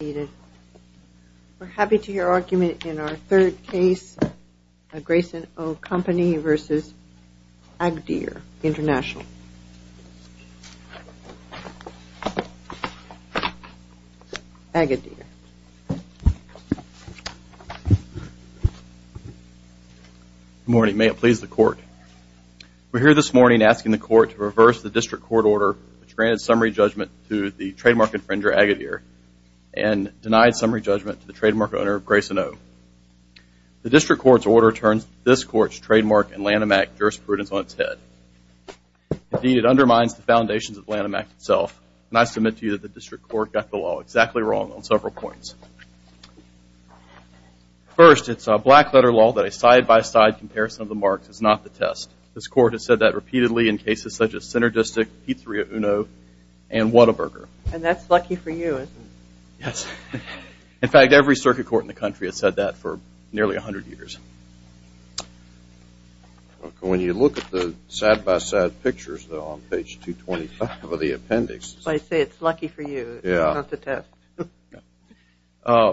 We're happy to hear your argument in our third case, Grayson O Company v. Agadir International. Agadir. Good morning. May it please the court. We're here this morning asking the court to reverse the district court order which granted summary judgment to the trademark infringer, Agadir, and denied summary judgment to the trademark owner, Grayson O. The district court's order turns this court's trademark and Lanham Act jurisprudence on its head. Indeed, it undermines the foundations of the Lanham Act itself, and I submit to you that the district court got the law exactly wrong on several points. First, it's a black-letter law that a side-by-side comparison of the marks is not the test. This court has said that repeatedly in cases such as Synergistic, P3 of Uno, and Whataburger. And that's lucky for you, isn't it? Yes. In fact, every circuit court in the country has said that for nearly 100 years. When you look at the side-by-side pictures, though, on page 225 of the appendix. I say it's lucky for you. It's not the test.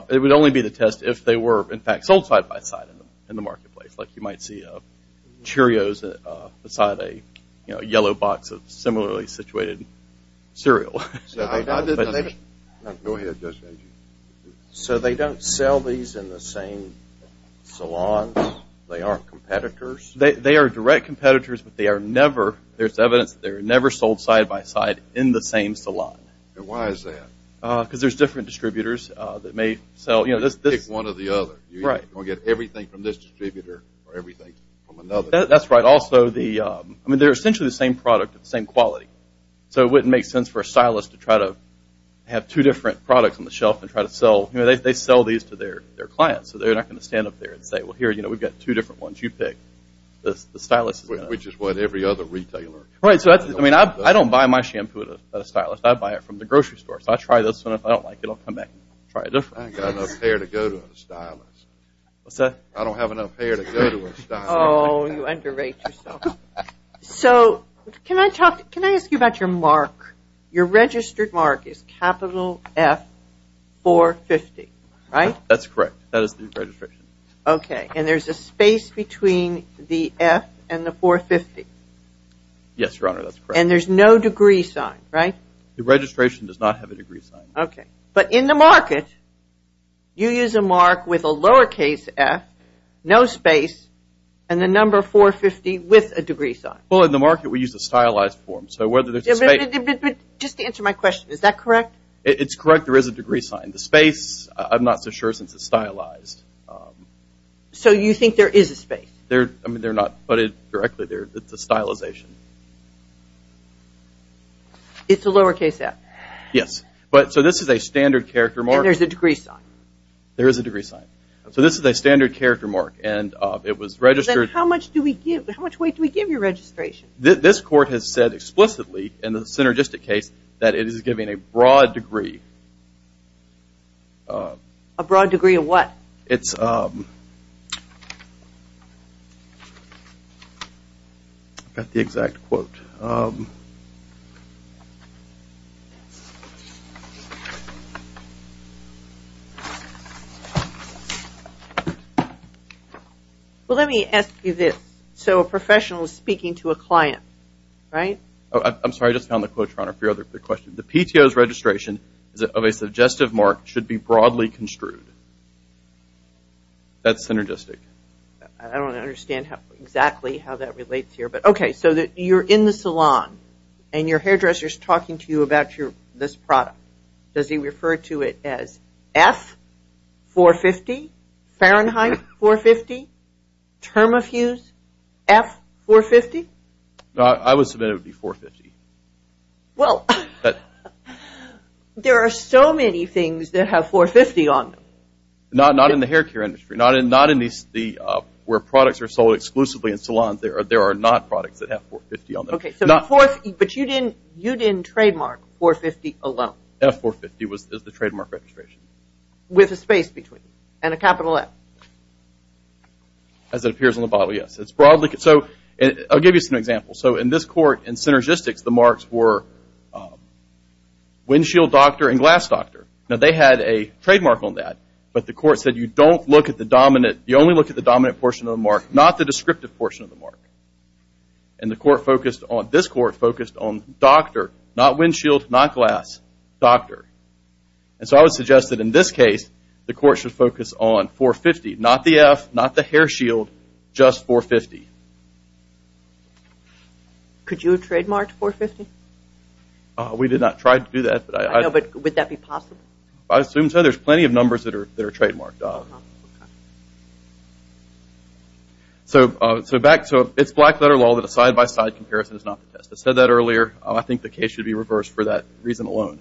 It would only be the test if they were, in fact, sold side-by-side in the marketplace, like you might see Cheerios beside a yellow box of similarly situated cereal. So they don't sell these in the same salons? They aren't competitors? They are direct competitors, but there's evidence that they were never sold side-by-side in the same salon. And why is that? Because there's different distributors that may sell. You pick one or the other. You're going to get everything from this distributor or everything from another. That's right. Also, they're essentially the same product of the same quality. So it wouldn't make sense for a stylist to try to have two different products on the shelf and try to sell. They sell these to their clients. So they're not going to stand up there and say, well, here, we've got two different ones. You pick. The stylist is going to. Which is what every other retailer does. I don't buy my shampoo at a stylist. I buy it from the grocery store. So I try this one. If I don't like it, I'll come back and try a different one. I ain't got enough hair to go to a stylist. What's that? I don't have enough hair to go to a stylist. Oh, you underrate yourself. So can I ask you about your mark? Your registered mark is capital F450, right? That's correct. That is the registration. Okay. And there's a space between the F and the 450? Yes, Your Honor, that's correct. And there's no degree sign, right? The registration does not have a degree sign. Okay. But in the market, you use a mark with a lowercase F, no space, and the number 450 with a degree sign. Well, in the market, we use a stylized form. So whether there's a space. But just to answer my question, is that correct? It's correct. There is a degree sign. The space, I'm not so sure since it's stylized. So you think there is a space? I mean, they're not putted directly there. It's a stylization. It's a lowercase F? Yes. But so this is a standard character mark. And there's a degree sign? There is a degree sign. So this is a standard character mark. And it was registered. Then how much weight do we give your registration? This court has said explicitly in the synergistic case that it is giving a broad degree. A broad degree of what? It's got the exact quote. Well, let me ask you this. So a professional is speaking to a client, right? I'm sorry. I just found the quote, Your Honor, for your other question. The PTO's registration of a suggestive mark should be broadly construed. That's synergistic. I don't understand exactly how that relates here. But okay, so you're in the salon. And your hairdresser is talking to you about this product. Does he refer to it as F450? Fahrenheit 450? Term of use F450? I would submit it would be 450. Well, there are so many things that have 450 on them. Not in the hair care industry. Not in where products are sold exclusively in salons. There are not products that have 450 on them. But you didn't trademark 450 alone? F450 is the trademark registration. With a space between? And a capital F? As it appears on the bottle, yes. I'll give you some examples. So in this court, in synergistics, the marks were windshield doctor and glass doctor. Now, they had a trademark on that. But the court said you only look at the dominant portion of the mark, not the descriptive portion of the mark. And this court focused on doctor, not windshield, not glass, doctor. And so I would suggest that in this case, the court should focus on 450. Not the F, not the hair shield, just 450. Could you have trademarked 450? We did not try to do that. Would that be possible? I assume so. There's plenty of numbers that are trademarked. So it's black-letter law that a side-by-side comparison is not the test. I said that earlier. I think the case should be reversed for that reason alone.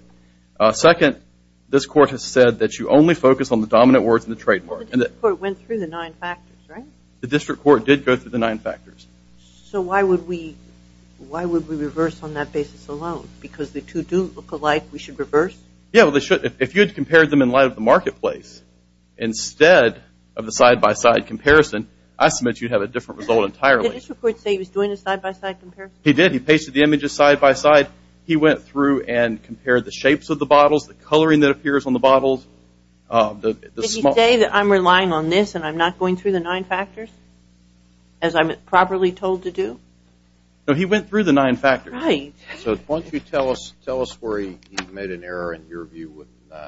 Second, this court has said that you only focus on the dominant words in the trademark. The district court went through the nine factors, right? The district court did go through the nine factors. So why would we reverse on that basis alone? Because the two do look alike. We should reverse? Yeah, well, they should. If you had compared them in light of the marketplace instead of the side-by-side comparison, I submit you'd have a different result entirely. Did the district court say he was doing a side-by-side comparison? He did. He pasted the images side-by-side. He went through and compared the shapes of the bottles, the coloring that appears on the bottles. Did he say that I'm relying on this and I'm not going through the nine factors as I'm properly told to do? No, he went through the nine factors. Right. So why don't you tell us where he made an error in your view with the nine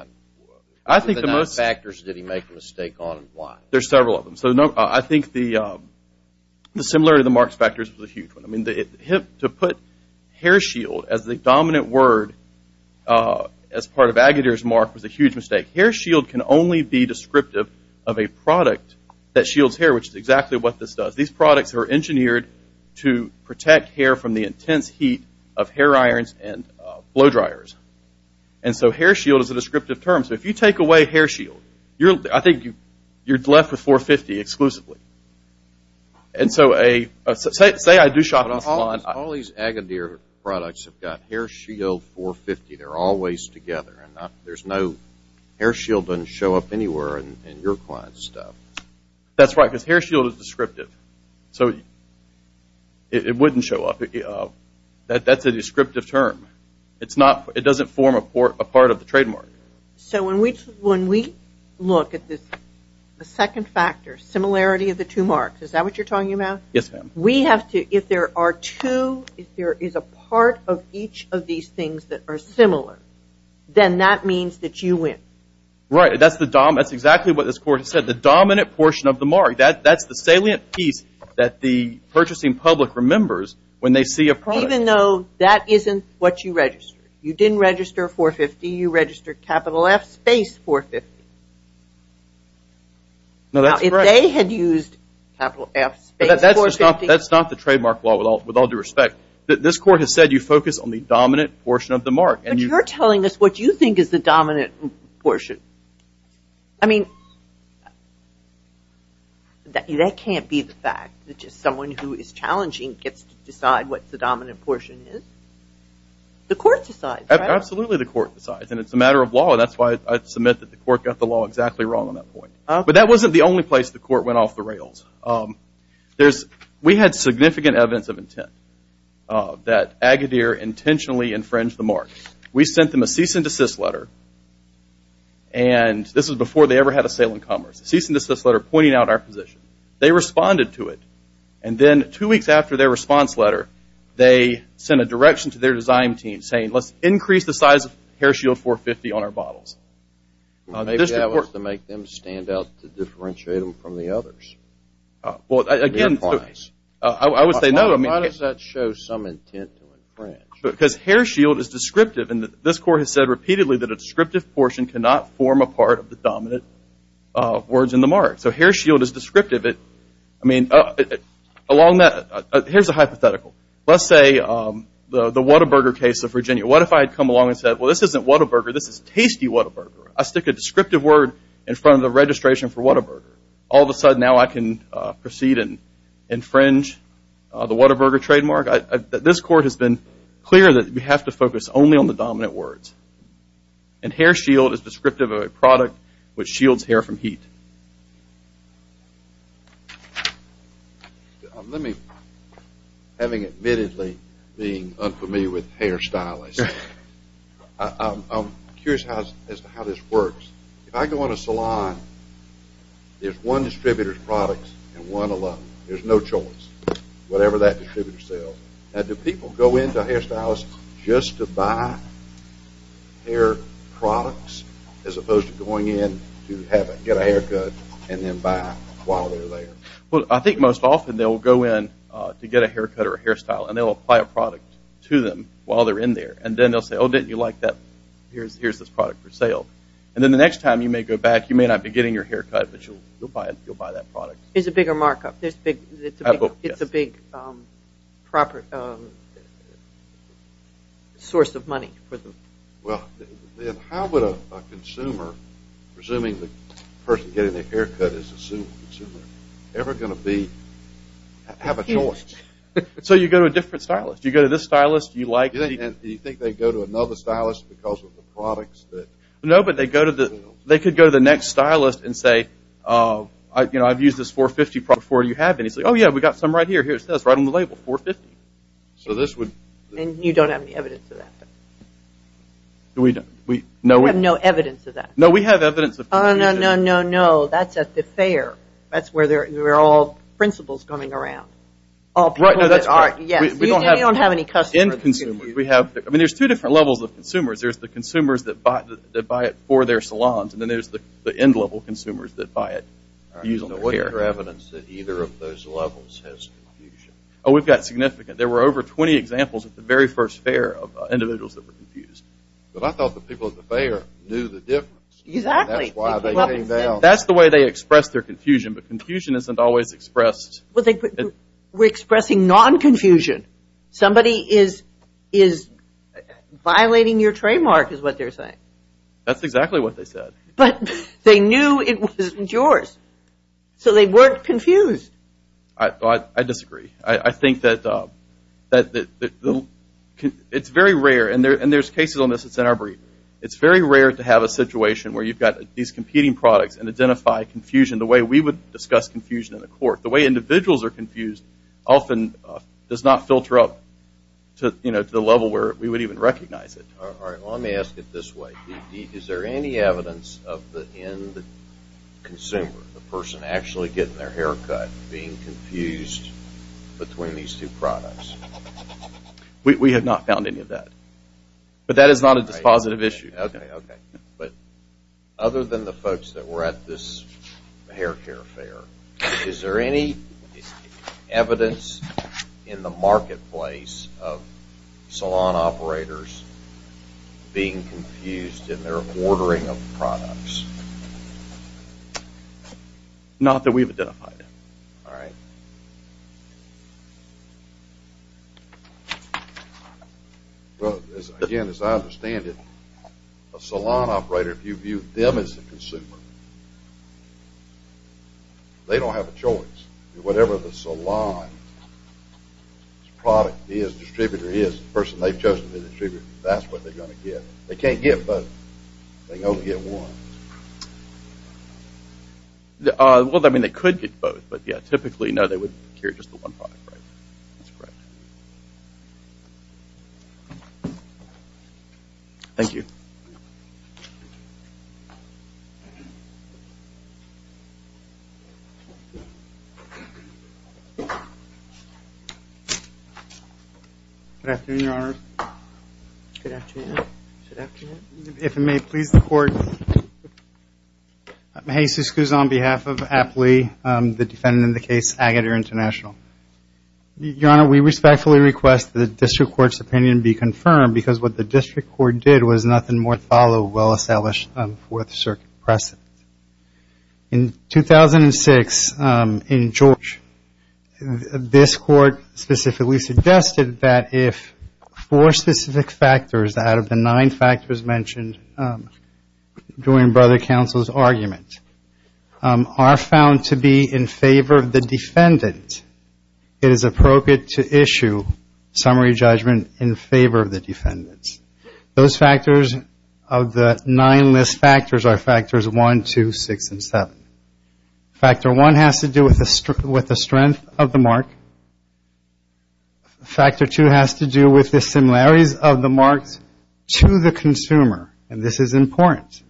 factors? Did he make a mistake on one? There's several of them. So I think the similarity of the marks factors was a huge one. To put hair shield as the dominant word as part of Agadir's mark was a huge mistake. Hair shield can only be descriptive of a product that shields hair, which is exactly what this does. These products are engineered to protect hair from the intense heat of hair irons and blow dryers. And so hair shield is a descriptive term. So if you take away hair shield, I think you're left with 450 exclusively. And so say I do shopping online. All these Agadir products have got hair shield 450. They're always together. There's no hair shield doesn't show up anywhere in your client's stuff. That's right, because hair shield is descriptive. So it wouldn't show up. That's a descriptive term. It doesn't form a part of the trademark. So when we look at this second factor, similarity of the two marks, is that what you're talking about? Yes, ma'am. We have to, if there are two, if there is a part of each of these things that are similar, then that means that you win. Right. That's exactly what this court has said, the dominant portion of the mark. That's the salient piece that the purchasing public remembers when they see a product. Even though that isn't what you registered. You didn't register 450. You registered capital F space 450. Now, that's correct. Now, if they had used capital F space 450. That's not the trademark law with all due respect. This court has said you focus on the dominant portion of the mark. But you're telling us what you think is the dominant portion. I mean, that can't be the fact that just someone who is challenging gets to decide what the dominant portion is. The court decides, right? Absolutely, the court decides. And it's a matter of law. That's why I submit that the court got the law exactly wrong on that point. But that wasn't the only place the court went off the rails. We had significant evidence of intent that Agadir intentionally infringed the mark. We sent them a cease and desist letter. And this was before they ever had a sale in commerce. A cease and desist letter pointing out our position. They responded to it. And then two weeks after their response letter, they sent a direction to their design team saying, let's increase the size of hair shield 450 on our bottles. Maybe that was to make them stand out to differentiate them from the others. Well, again, I would say no. Why does that show some intent to infringe? Because hair shield is descriptive. And this court has said repeatedly that a descriptive portion cannot form a part of the dominant words in the mark. So hair shield is descriptive. Here's a hypothetical. Let's say the Whataburger case of Virginia. What if I had come along and said, well, this isn't Whataburger. This is Tasty Whataburger. I stick a descriptive word in front of the registration for Whataburger. All of a sudden now I can proceed and infringe the Whataburger trademark. This court has been clear that we have to focus only on the dominant words. And hair shield is descriptive of a product which shields hair from heat. Let me, having admittedly been unfamiliar with hairstylists, I'm curious as to how this works. If I go in a salon, there's one distributor's products and one alum. There's no choice, whatever that distributor sells. Now, do people go into a hairstylist just to buy hair products as opposed to going in to get a haircut and then buy while they're there? Well, I think most often they'll go in to get a haircut or a hairstyle, and they'll apply a product to them while they're in there. And then they'll say, oh, didn't you like that? Here's this product for sale. And then the next time you may go back, you may not be getting your haircut, but you'll buy that product. It's a bigger markup. It's a big source of money for them. Well, then how would a consumer, presuming the person getting the haircut is a consumer, ever going to have a choice? So you go to a different stylist. You go to this stylist. Do you think they go to another stylist because of the products? No, but they could go to the next stylist and say, you know, I've used this 450 product before. Do you have any? It's like, oh, yeah, we've got some right here. Here, it says right on the label, 450. So this would – And you don't have any evidence of that? No, we – You have no evidence of that? No, we have evidence of – Oh, no, no, no, no. That's at the fair. That's where they're all principals coming around. All people that are – Right, no, that's correct. Yes, we don't have – We don't have any customers. We have – I mean, there's two different levels of consumers. There's the consumers that buy it for their salons, and then there's the end-level consumers that buy it. All right, so what's your evidence that either of those levels has confusion? Oh, we've got significant. There were over 20 examples at the very first fair of individuals that were confused. But I thought the people at the fair knew the difference. Exactly. That's why they came down. That's the way they expressed their confusion, but confusion isn't always expressed – We're expressing non-confusion. Somebody is violating your trademark is what they're saying. That's exactly what they said. But they knew it wasn't yours, so they weren't confused. I disagree. I think that – it's very rare, and there's cases on this that's in our brief. It's very rare to have a situation where you've got these competing products and identify confusion the way we would discuss confusion in a court. The way individuals are confused often does not filter up to the level where we would even recognize it. All right, well, let me ask it this way. Is there any evidence of the end consumer, the person actually getting their hair cut, being confused between these two products? We have not found any of that. But that is not a dispositive issue. Okay, okay. But other than the folks that were at this hair care fair, is there any evidence in the marketplace of salon operators being confused in their ordering of products? Not that we've identified. All right. Well, again, as I understand it, a salon operator, if you view them as the consumer, they don't have a choice. Whatever the salon's product is, distributor is, the person they've chosen to distribute, that's what they're going to get. They can't get both. They can only get one. Well, I mean, they could get both. But, yeah, typically, no, they would procure just the one product, right? That's correct. Thank you. Good afternoon, Your Honor. Good afternoon. If it may please the Court, I'm Jesus Cousin on behalf of APLE, the defendant in the case, Agadir International. Your Honor, we respectfully request that the district court's opinion be confirmed because what the district court did was nothing more than follow a well-established Fourth Circuit precedent. In 2006, in George, this court specifically suggested that if four specific factors out of the nine factors mentioned during brother counsel's argument are found to be in favor of the defendant, it is appropriate to issue summary judgment in favor of the defendant. Those factors of the nine list factors are factors one, two, six, and seven. Factor one has to do with the strength of the mark. Factor two has to do with the similarities of the marks to the consumer, and this is important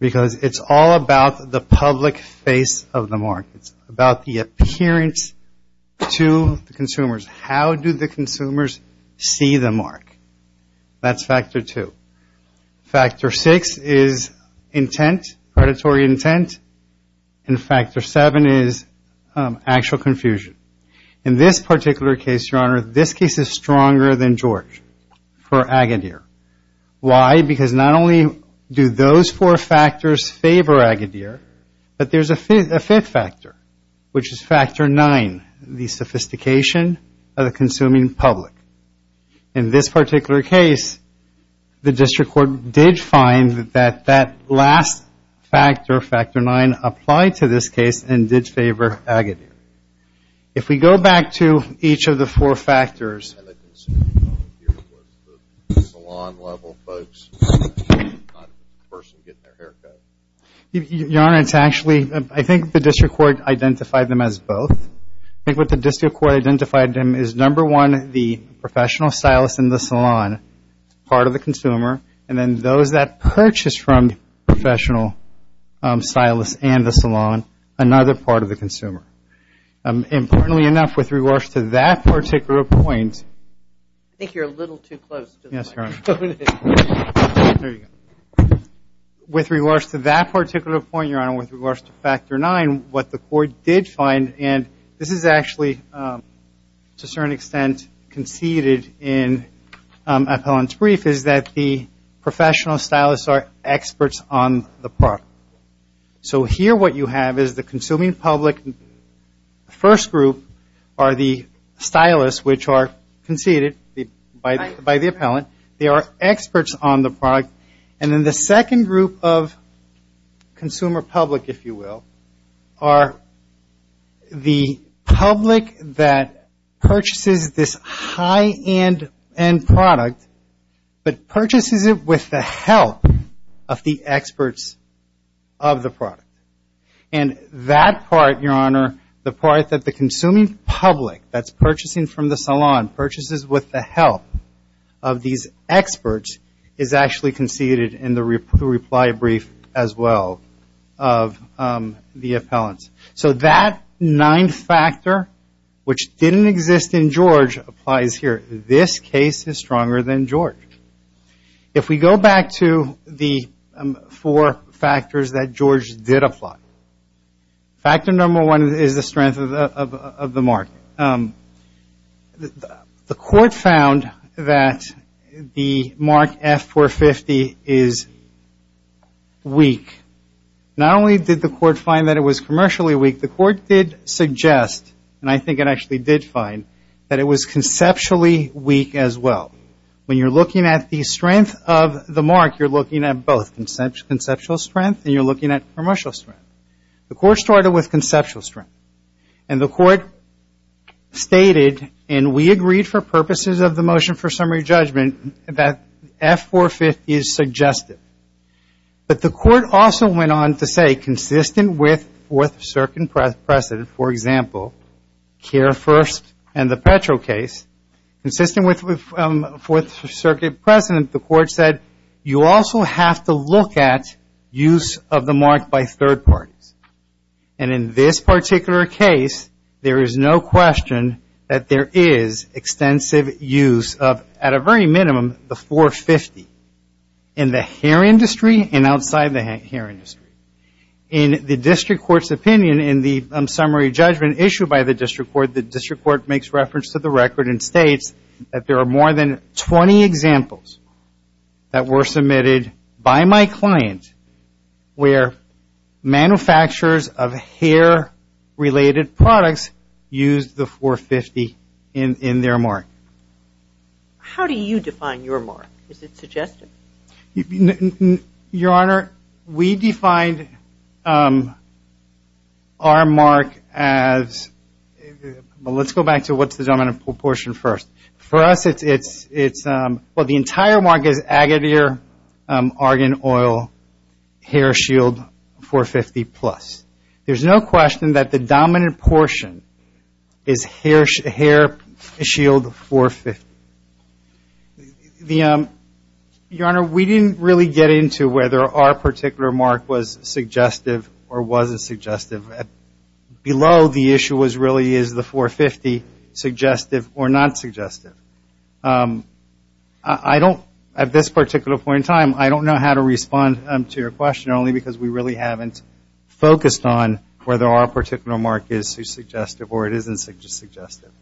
because it's all about the public face of the mark. It's about the appearance to the consumers. How do the consumers see the mark? That's factor two. Factor six is intent, predatory intent, and factor seven is actual confusion. In this particular case, Your Honor, this case is stronger than George for Agadir. Why? Because not only do those four factors favor Agadir, but there's a fifth factor, which is factor nine, the sophistication of the consuming public. In this particular case, the district court did find that that last factor, factor nine, applied to this case and did favor Agadir. If we go back to each of the four factors, Your Honor, it's actually, I think the district court identified them as both. I think what the district court identified them as, number one, the professional stylist in the salon, part of the consumer, and then those that purchased from the professional stylist and the salon, another part of the consumer. Importantly enough, with regards to that particular point. I think you're a little too close to the microphone. Yes, Your Honor. There you go. With regards to that particular point, Your Honor, with regards to factor nine, what the court did find, and this is actually, to a certain extent, conceded in appellant's brief, is that the professional stylists are experts on the product. So here what you have is the consuming public, the first group are the stylists, which are conceded by the appellant. They are experts on the product. And then the second group of consumer public, if you will, are the public that purchases this high-end product, but purchases it with the help of the experts of the product. And that part, Your Honor, the part that the consuming public, that's purchasing from the salon, purchases with the help of these experts, is actually conceded in the reply brief as well of the appellant. So that ninth factor, which didn't exist in George, applies here. This case is stronger than George. If we go back to the four factors that George did apply, factor number one is the strength of the mark. The court found that the mark F450 is weak. Not only did the court find that it was commercially weak, the court did suggest, and I think it actually did find, that it was conceptually weak as well. When you're looking at the strength of the mark, you're looking at both conceptual strength and you're looking at commercial strength. The court started with conceptual strength. And the court stated, and we agreed for purposes of the motion for summary judgment, that F450 is suggestive. But the court also went on to say, consistent with Fourth Circuit precedent, for example, Care First and the Petro case, consistent with Fourth Circuit precedent, the court said, you also have to look at use of the mark by third parties. And in this particular case, there is no question that there is extensive use of, at a very minimum, the 450. In the hair industry and outside the hair industry. In the district court's opinion, in the summary judgment issued by the district court, the district court makes reference to the record and states that there are more than 20 examples that were submitted by my client where manufacturers of hair-related products used the 450 in their mark. How do you define your mark? Is it suggestive? Your Honor, we defined our mark as, well, let's go back to what's the dominant portion first. For us, it's, well, the entire mark is Agadir Argan Oil, hair shield 450 plus. There's no question that the dominant portion is hair shield 450. Your Honor, we didn't really get into whether our particular mark was suggestive or wasn't suggestive. Below the issue was really is the 450 suggestive or not suggestive. I don't, at this particular point in time, I don't know how to respond to your question only because we really haven't focused on whether our particular mark is suggestive or it isn't suggestive.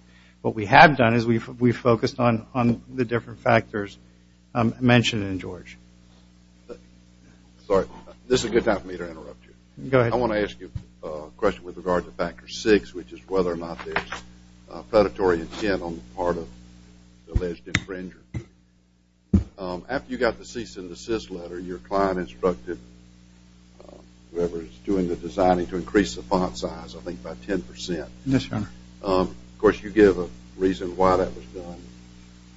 What we have done is we've focused on the different factors mentioned in George. Sorry, this is a good time for me to interrupt you. Go ahead. I want to ask you a question with regard to factor six, which is whether or not there's predatory intent on the part of the alleged infringer. After you got the cease and desist letter, your client instructed whoever is doing the designing to increase the font size, I think, by 10%. Yes, Your Honor. Of course, you give a reason why that was done.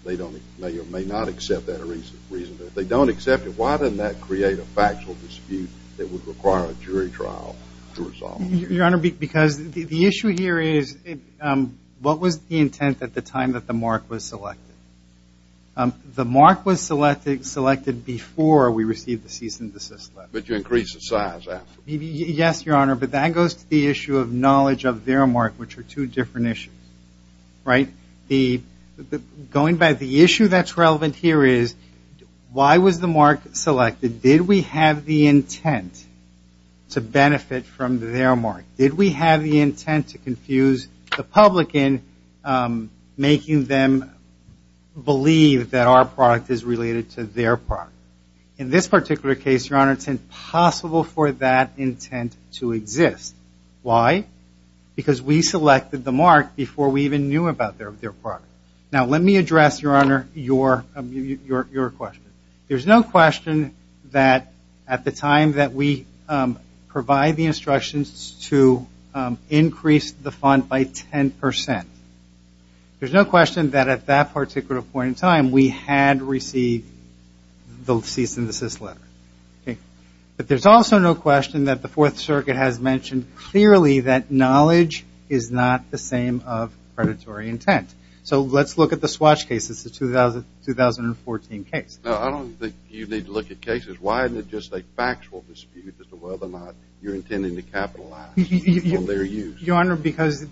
They may or may not accept that reason. If they don't accept it, why didn't that create a factual dispute that would require a jury trial to resolve it? Your Honor, because the issue here is what was the intent at the time that the mark was selected? The mark was selected before we received the cease and desist letter. But you increased the size after. Yes, Your Honor, but that goes to the issue of knowledge of their mark, which are two different issues, right? Going back, the issue that's relevant here is why was the mark selected? Did we have the intent to benefit from their mark? Did we have the intent to confuse the public in making them believe that our product is related to their product? In this particular case, Your Honor, it's impossible for that intent to exist. Why? Because we selected the mark before we even knew about their product. Now, let me address, Your Honor, your question. There's no question that at the time that we provide the instructions to increase the fund by 10%, there's no question that at that particular point in time we had received the cease and desist letter. But there's also no question that the Fourth Circuit has mentioned clearly that knowledge is not the same of predatory intent. So let's look at the Swatch cases, the 2014 case. No, I don't think you need to look at cases. Why isn't it just a factual dispute as to whether or not you're intending to capitalize on their use? Your Honor, because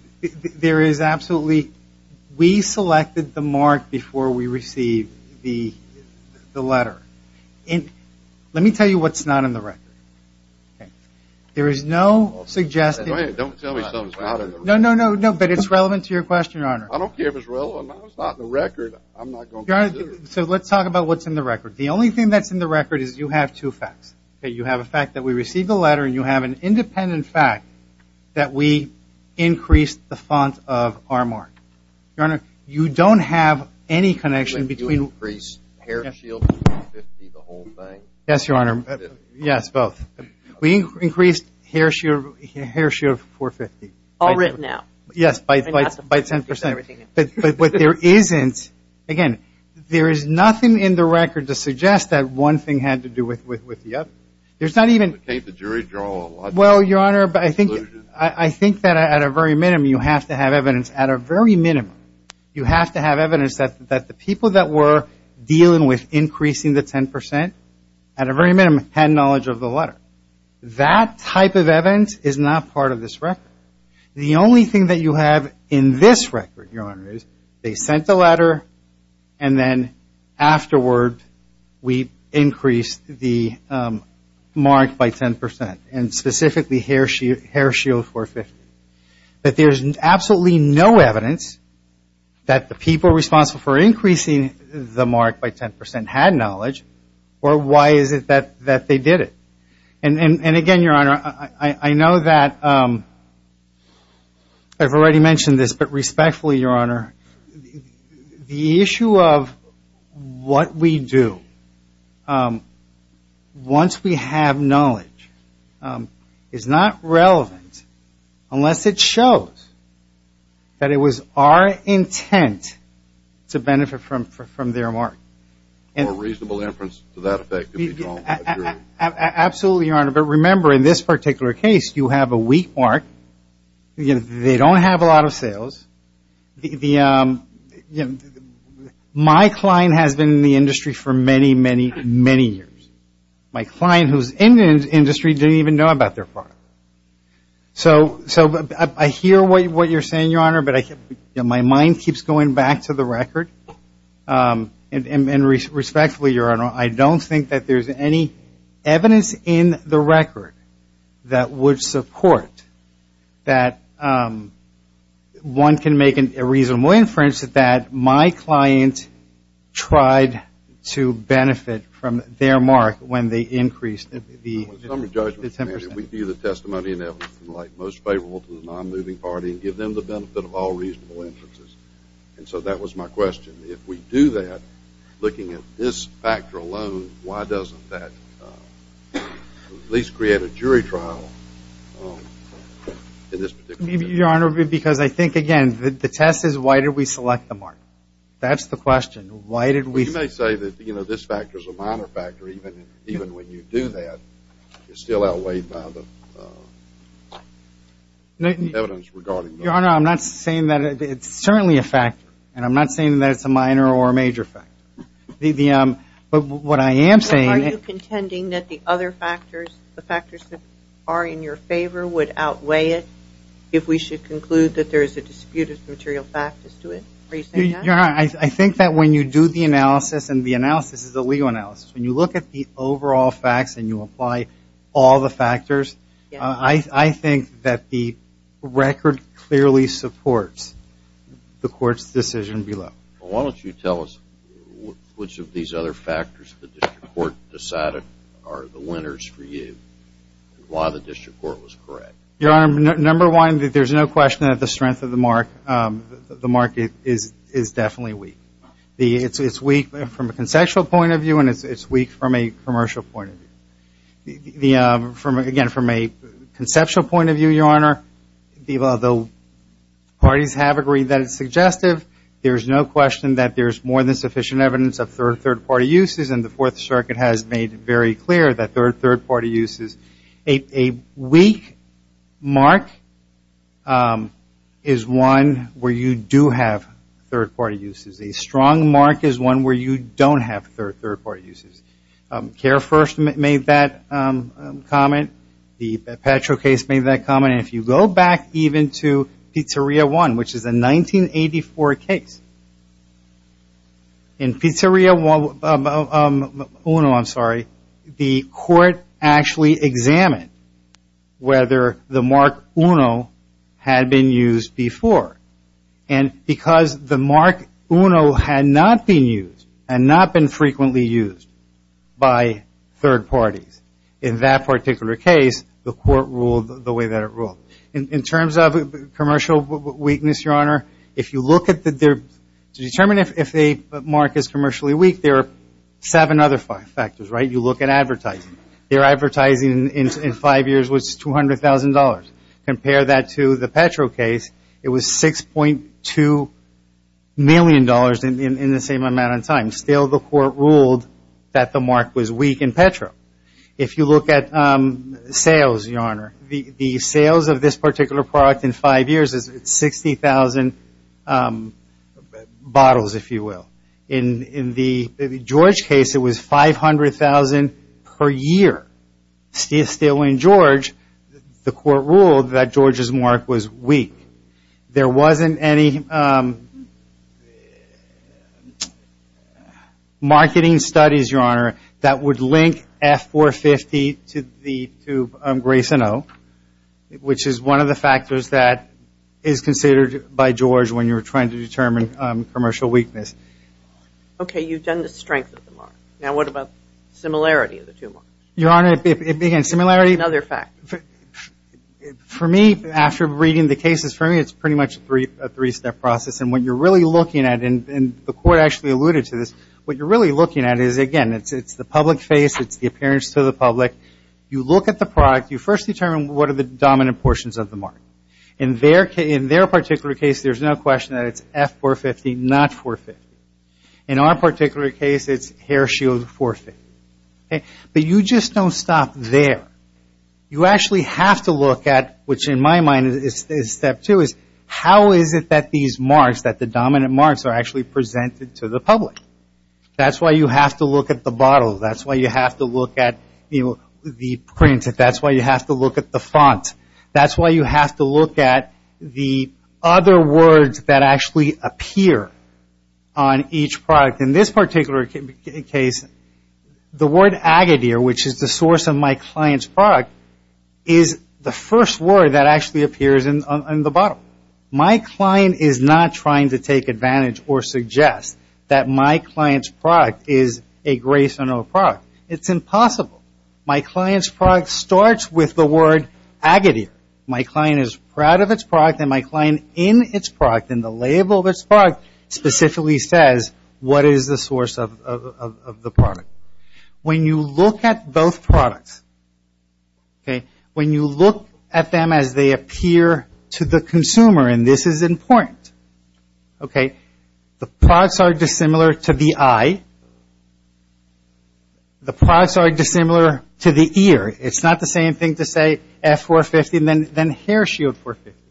there is absolutely we selected the mark before we received the letter. Let me tell you what's not in the record. There is no suggestion. Don't tell me something's not in the record. No, no, no, but it's relevant to your question, Your Honor. I don't care if it's relevant or not. It's not in the record. I'm not going to consider it. Your Honor, so let's talk about what's in the record. The only thing that's in the record is you have two facts. You have a fact that we received the letter and you have an independent fact that we increased the fund of our mark. Your Honor, you don't have any connection between You increased Hare Shield 450, the whole thing. Yes, Your Honor. Yes, both. We increased Hare Shield 450. All written out. Yes, by 10%. But what there isn't, again, there is nothing in the record to suggest that one thing had to do with the other. There's not even But can't the jury draw a logical conclusion? Well, Your Honor, I think that at a very minimum, you have to have evidence at a very minimum. You have to have evidence that the people that were dealing with increasing the 10% at a very minimum had knowledge of the letter. That type of evidence is not part of this record. The only thing that you have in this record, Your Honor, is they sent the letter and then afterward we increased the mark by 10%, and specifically Hare Shield 450. But there's absolutely no evidence that the people responsible for increasing the mark by 10% had knowledge, or why is it that they did it? And again, Your Honor, I know that I've already mentioned this, but respectfully, Your Honor, the issue of what we do once we have knowledge is not relevant unless it shows that it was our intent to benefit from their mark. A reasonable inference to that effect can be drawn. Absolutely, Your Honor. But remember, in this particular case, you have a weak mark. They don't have a lot of sales. My client has been in the industry for many, many, many years. My client who's in the industry didn't even know about their product. So I hear what you're saying, Your Honor, but my mind keeps going back to the record. And respectfully, Your Honor, I don't think that there's any evidence in the record that would support that one can make a reasonable inference that my client tried to benefit from their mark when they increased the 10%. We view the testimony and evidence in the light most favorable to the non-moving party and give them the benefit of all reasonable inferences. And so that was my question. If we do that, looking at this factor alone, why doesn't that at least create a jury trial in this particular case? Your Honor, because I think, again, the test is why did we select the mark. That's the question. Why did we select the mark? You may say that this factor is a minor factor even when you do that. It's still outweighed by the evidence regarding the mark. Your Honor, I'm not saying that it's certainly a factor. And I'm not saying that it's a minor or a major factor. But what I am saying is- Are you contending that the other factors, the factors that are in your favor, would outweigh it if we should conclude that there is a dispute of material factors to it? Are you saying that? Your Honor, I think that when you do the analysis, and the analysis is a legal analysis, I think that the record clearly supports the court's decision below. Well, why don't you tell us which of these other factors the district court decided are the winners for you and why the district court was correct. Your Honor, number one, there's no question that the strength of the mark, the mark is definitely weak. It's weak from a conceptual point of view, and it's weak from a commercial point of view. Again, from a conceptual point of view, Your Honor, the parties have agreed that it's suggestive. There's no question that there's more than sufficient evidence of third-party uses, and the Fourth Circuit has made very clear that they're third-party uses. A weak mark is one where you do have third-party uses. A strong mark is one where you don't have third-party uses. CARE first made that comment. The Petro case made that comment. And if you go back even to Pizzeria One, which is a 1984 case, in Pizzeria Uno, I'm sorry, the court actually examined whether the mark Uno had been used before. And because the mark Uno had not been used and not been frequently used by third parties, in that particular case, the court ruled the way that it ruled. In terms of commercial weakness, Your Honor, if you look at the – to determine if a mark is commercially weak, there are seven other factors, right? You look at advertising. Their advertising in five years was $200,000. Compare that to the Petro case. It was $6.2 million in the same amount of time. Still, the court ruled that the mark was weak in Petro. If you look at sales, Your Honor, the sales of this particular product in five years is 60,000 bottles, if you will. In the George case, it was 500,000 per year. Still, in George, the court ruled that George's mark was weak. There wasn't any marketing studies, Your Honor, that would link F-450 to Grace Uno, which is one of the factors that is considered by George when you're trying to determine commercial weakness. Okay, you've done the strength of the mark. Now what about similarity of the two marks? Your Honor, again, similarity? Another fact. For me, after reading the cases, for me, it's pretty much a three-step process. And what you're really looking at, and the court actually alluded to this, what you're really looking at is, again, it's the public face. It's the appearance to the public. You look at the product. You first determine what are the dominant portions of the mark. In their particular case, there's no question that it's F-450, not 450. In our particular case, it's hair shield 450. But you just don't stop there. You actually have to look at, which in my mind is step two, is how is it that these marks, that the dominant marks, are actually presented to the public? That's why you have to look at the bottle. That's why you have to look at the print. That's why you have to look at the font. That's why you have to look at the other words that actually appear on each product. In this particular case, the word Agadir, which is the source of my client's product, is the first word that actually appears in the bottle. My client is not trying to take advantage or suggest that my client's product is a grace on our product. It's impossible. My client's product starts with the word Agadir. My client is proud of its product, and my client, in its product, in the label of its product, specifically says what is the source of the product. When you look at both products, when you look at them as they appear to the consumer, and this is important, the products are dissimilar to the eye. The products are dissimilar to the ear. It's not the same thing to say F450 and then hair shield 450.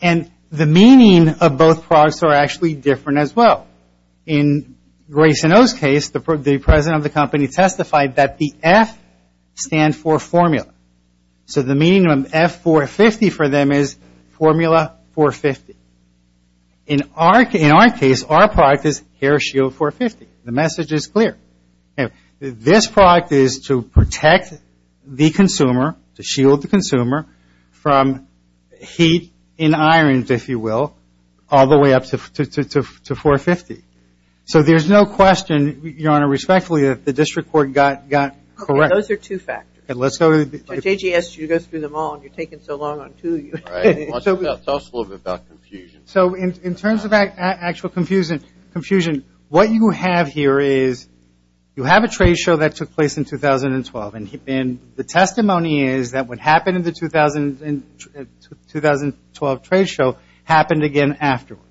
And the meaning of both products are actually different as well. In Grayson Oh's case, the president of the company testified that the F stands for formula. So the meaning of F450 for them is formula 450. In our case, our product is hair shield 450. The message is clear. This product is to protect the consumer, to shield the consumer from heat in irons, if you will, all the way up to 450. So there's no question, Your Honor, respectfully, that the district court got correct. Okay, those are two factors. But JGS, you go through them all, and you're taking so long on two. All right. Tell us a little bit about confusion. So in terms of actual confusion, what you have here is you have a trade show that took place in 2012, and the testimony is that what happened in the 2012 trade show happened again afterwards.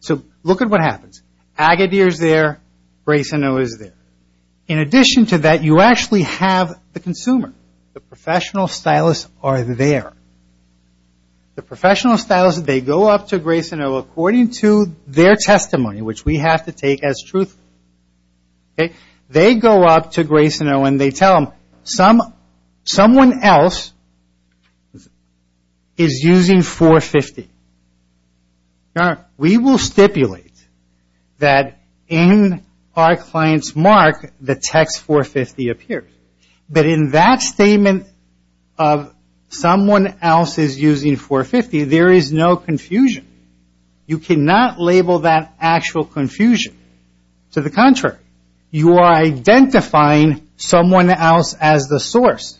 So look at what happens. Agadir is there. Grayson Oh is there. In addition to that, you actually have the consumer. The professional stylists are there. The professional stylists, they go up to Grayson Oh, according to their testimony, which we have to take as truth. They go up to Grayson Oh, and they tell him, someone else is using 450. Now, we will stipulate that in our client's mark, the text 450 appears. But in that statement of someone else is using 450, there is no confusion. You cannot label that actual confusion. To the contrary, you are identifying someone else as the source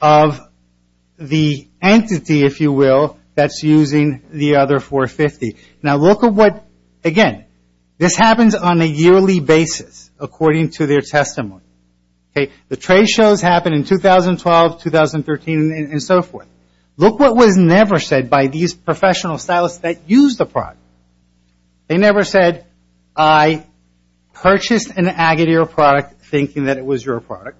of the entity, if you will, that's using the other 450. Now, look at what, again, this happens on a yearly basis, according to their testimony. The trade shows happened in 2012, 2013, and so forth. Look what was never said by these professional stylists that used the product. They never said, I purchased an Agadir product thinking that it was your product.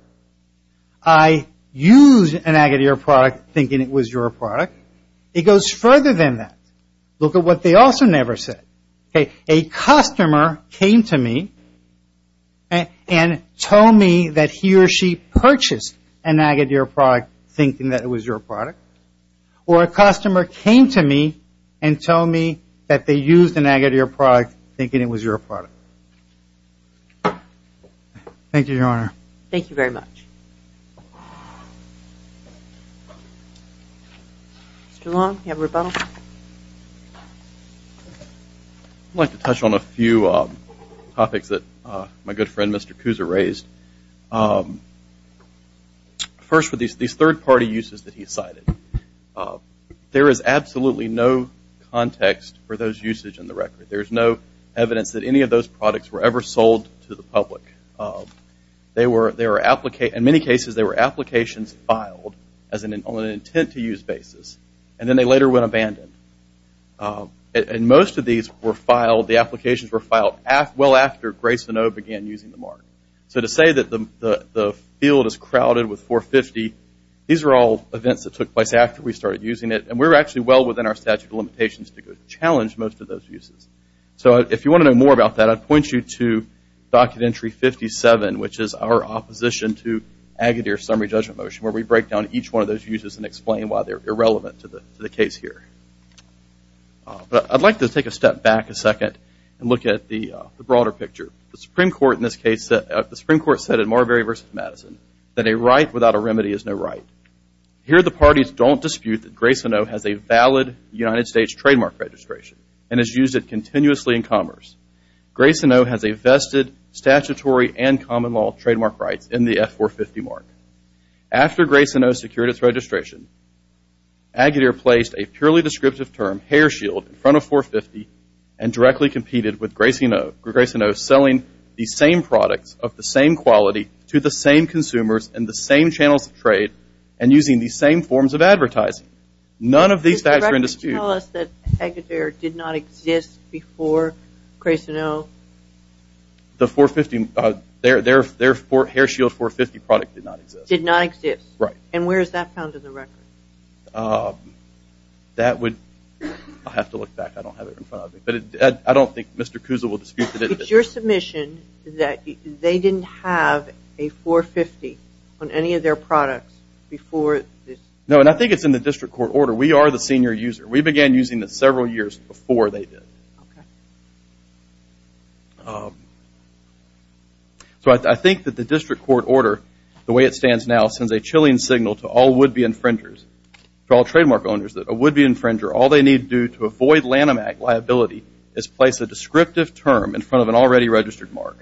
I used an Agadir product thinking it was your product. It goes further than that. Look at what they also never said. A customer came to me and told me that he or she purchased an Agadir product thinking that it was your product. Or a customer came to me and told me that they used an Agadir product thinking it was your product. Thank you, Your Honor. Thank you very much. Mr. Long, do you have a rebuttal? I'd like to touch on a few topics that my good friend, Mr. Kousa, raised. First, with these third-party uses that he cited, there is absolutely no context for those usage in the record. There is no evidence that any of those products were ever sold to the public. In many cases, they were applications filed on an intent-to-use basis. And then they later went abandoned. And most of these were filed, the applications were filed well after Grayson O began using the mark. So to say that the field is crowded with 450, these are all events that took place after we started using it. And we're actually well within our statute of limitations to challenge most of those uses. So if you want to know more about that, I'd point you to Documentary 57, which is our opposition to Agadir's summary judgment motion, where we break down each one of those uses and explain why they're irrelevant to the case here. But I'd like to take a step back a second and look at the broader picture. The Supreme Court in this case, the Supreme Court said in Marbury v. Madison, that a right without a remedy is no right. Here the parties don't dispute that Grayson O has a valid United States trademark registration and has used it continuously in commerce. Grayson O has a vested statutory and common law trademark rights in the F450 mark. After Grayson O secured its registration, Agadir placed a purely descriptive term, hair shield, in front of 450 and directly competed with Grayson O, selling the same products of the same quality to the same consumers in the same channels of trade and using the same forms of advertising. None of these facts are in dispute. Does the record tell us that Agadir did not exist before Grayson O? The 450, their hair shield 450 product did not exist. Did not exist. Right. And where is that found in the record? That would, I'll have to look back. I don't have it in front of me. But I don't think Mr. Kuzal will dispute that it is. It's your submission that they didn't have a 450 on any of their products before this? No, and I think it's in the district court order. We are the senior user. We began using it several years before they did. So I think that the district court order, the way it stands now, sends a chilling signal to all would-be infringers, to all trademark owners, that a would-be infringer, all they need to do to avoid Lanham Act liability, is place a descriptive term in front of an already registered mark.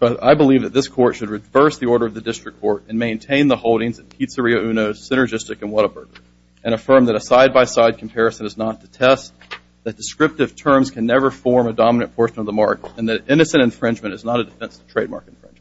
So I believe that this court should reverse the order of the district court and maintain the holdings of Pizzeria Uno, Synergistic, and Whataburger and affirm that a side-by-side comparison is not to test, that descriptive terms can never form a dominant portion of the mark, and that innocent infringement is not a defense of trademark infringement.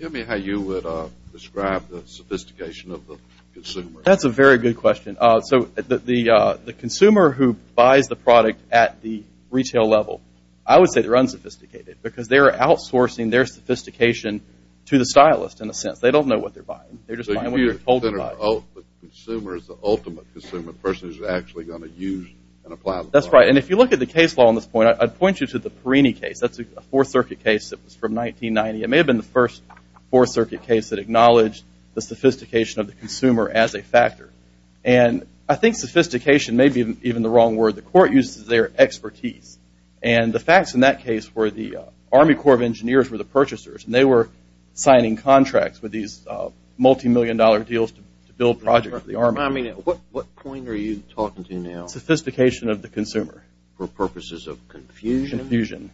Tell me how you would describe the sophistication of the consumer. That's a very good question. The consumer who buys the product at the retail level, I would say they're unsophisticated because they're outsourcing their sophistication to the stylist, in a sense. They don't know what they're buying. They're just buying what they're told to buy. The consumer is the ultimate consumer, the person who's actually going to use and apply the product. That's right, and if you look at the case law on this point, I'd point you to the Perini case. That's a Fourth Circuit case that was from 1990. It may have been the first Fourth Circuit case that acknowledged the sophistication of the consumer as a factor, and I think sophistication may be even the wrong word. The court uses their expertise, and the facts in that case were the Army Corps of Engineers were the purchasers, and they were signing contracts with these multimillion-dollar deals to build projects for the Army. At what point are you talking to now? Sophistication of the consumer. For purposes of confusion? Confusion.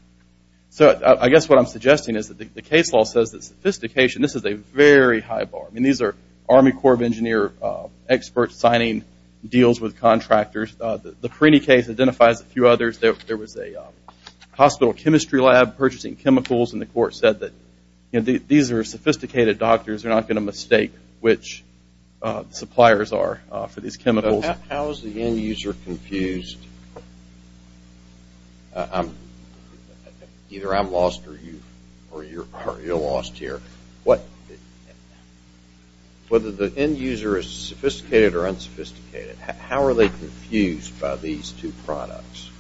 So I guess what I'm suggesting is that the case law says that sophistication, and this is a very high bar. These are Army Corps of Engineers experts signing deals with contractors. The Perini case identifies a few others. There was a hospital chemistry lab purchasing chemicals, and the court said that these are sophisticated doctors. They're not going to mistake which suppliers are for these chemicals. How is the end user confused? Either I'm lost or you're lost here. Whether the end user is sophisticated or unsophisticated, how are they confused by these two products?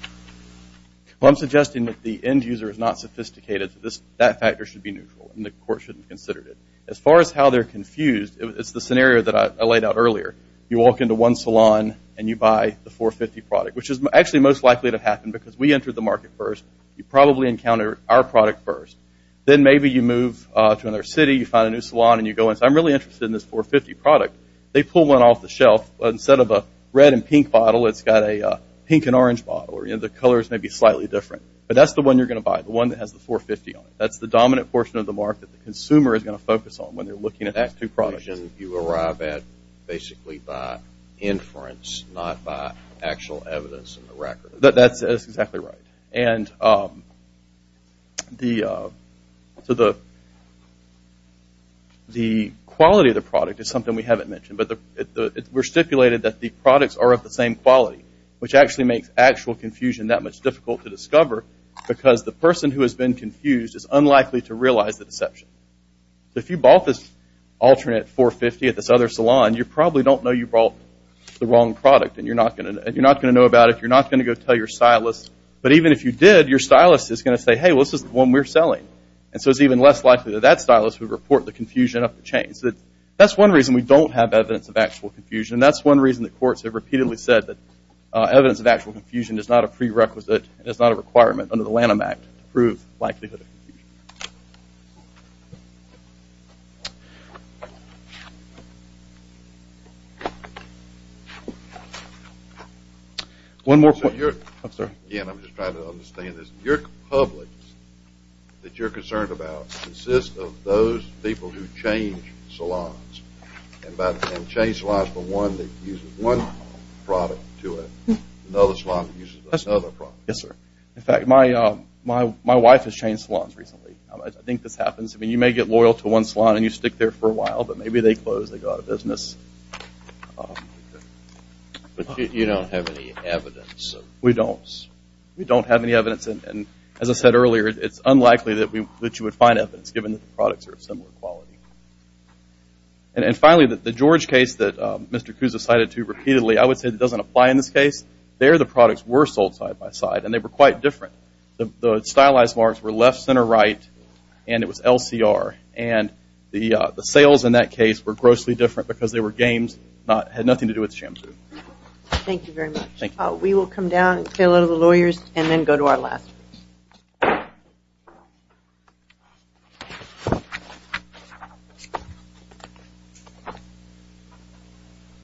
Well, I'm suggesting that the end user is not sophisticated. That factor should be neutral, and the court shouldn't have considered it. As far as how they're confused, it's the scenario that I laid out earlier. You walk into one salon and you buy the 450 product, which is actually most likely to happen because we enter the market first. You probably encounter our product first. Then maybe you move to another city, you find a new salon, and you go, I'm really interested in this 450 product. They pull one off the shelf. Instead of a red and pink bottle, it's got a pink and orange bottle. The colors may be slightly different, but that's the one you're going to buy, the one that has the 450 on it. That's the dominant portion of the market the consumer is going to focus on when they're looking at those two products. So the conclusion you arrive at basically by inference, not by actual evidence in the record. That's exactly right. The quality of the product is something we haven't mentioned, but we're stipulated that the products are of the same quality, which actually makes actual confusion that much difficult to discover because the person who has been confused is unlikely to realize the deception. If you bought this alternate 450 at this other salon, you probably don't know you bought the wrong product, and you're not going to know about it. You're not going to go tell your stylist. But even if you did, your stylist is going to say, hey, well, this is the one we're selling. And so it's even less likely that that stylist would report the confusion up the chain. So that's one reason we don't have evidence of actual confusion, and that's one reason the courts have repeatedly said that evidence of actual confusion is not a prerequisite and is not a requirement under the Lanham Act to prove likelihood of confusion. One more point. Again, I'm just trying to understand this. Your publics that you're concerned about consist of those people who change salons and change salons from one that uses one product to another salon Yes, sir. In fact, my wife has changed salons recently. I think this happens. I mean, you may get loyal to one salon and you stick there for a while, but maybe they close. They go out of business. But you don't have any evidence. We don't. We don't have any evidence. And as I said earlier, it's unlikely that you would find evidence, given that the products are of similar quality. And finally, the George case that Mr. Kousa cited too repeatedly, I would say that doesn't apply in this case. There the products were sold side by side, and they were quite different. The stylized marks were left, center, right, and it was LCR. And the sales in that case were grossly different because they were games, had nothing to do with shampoo. Thank you very much. Thank you. We will come down and say hello to the lawyers and then go to our last.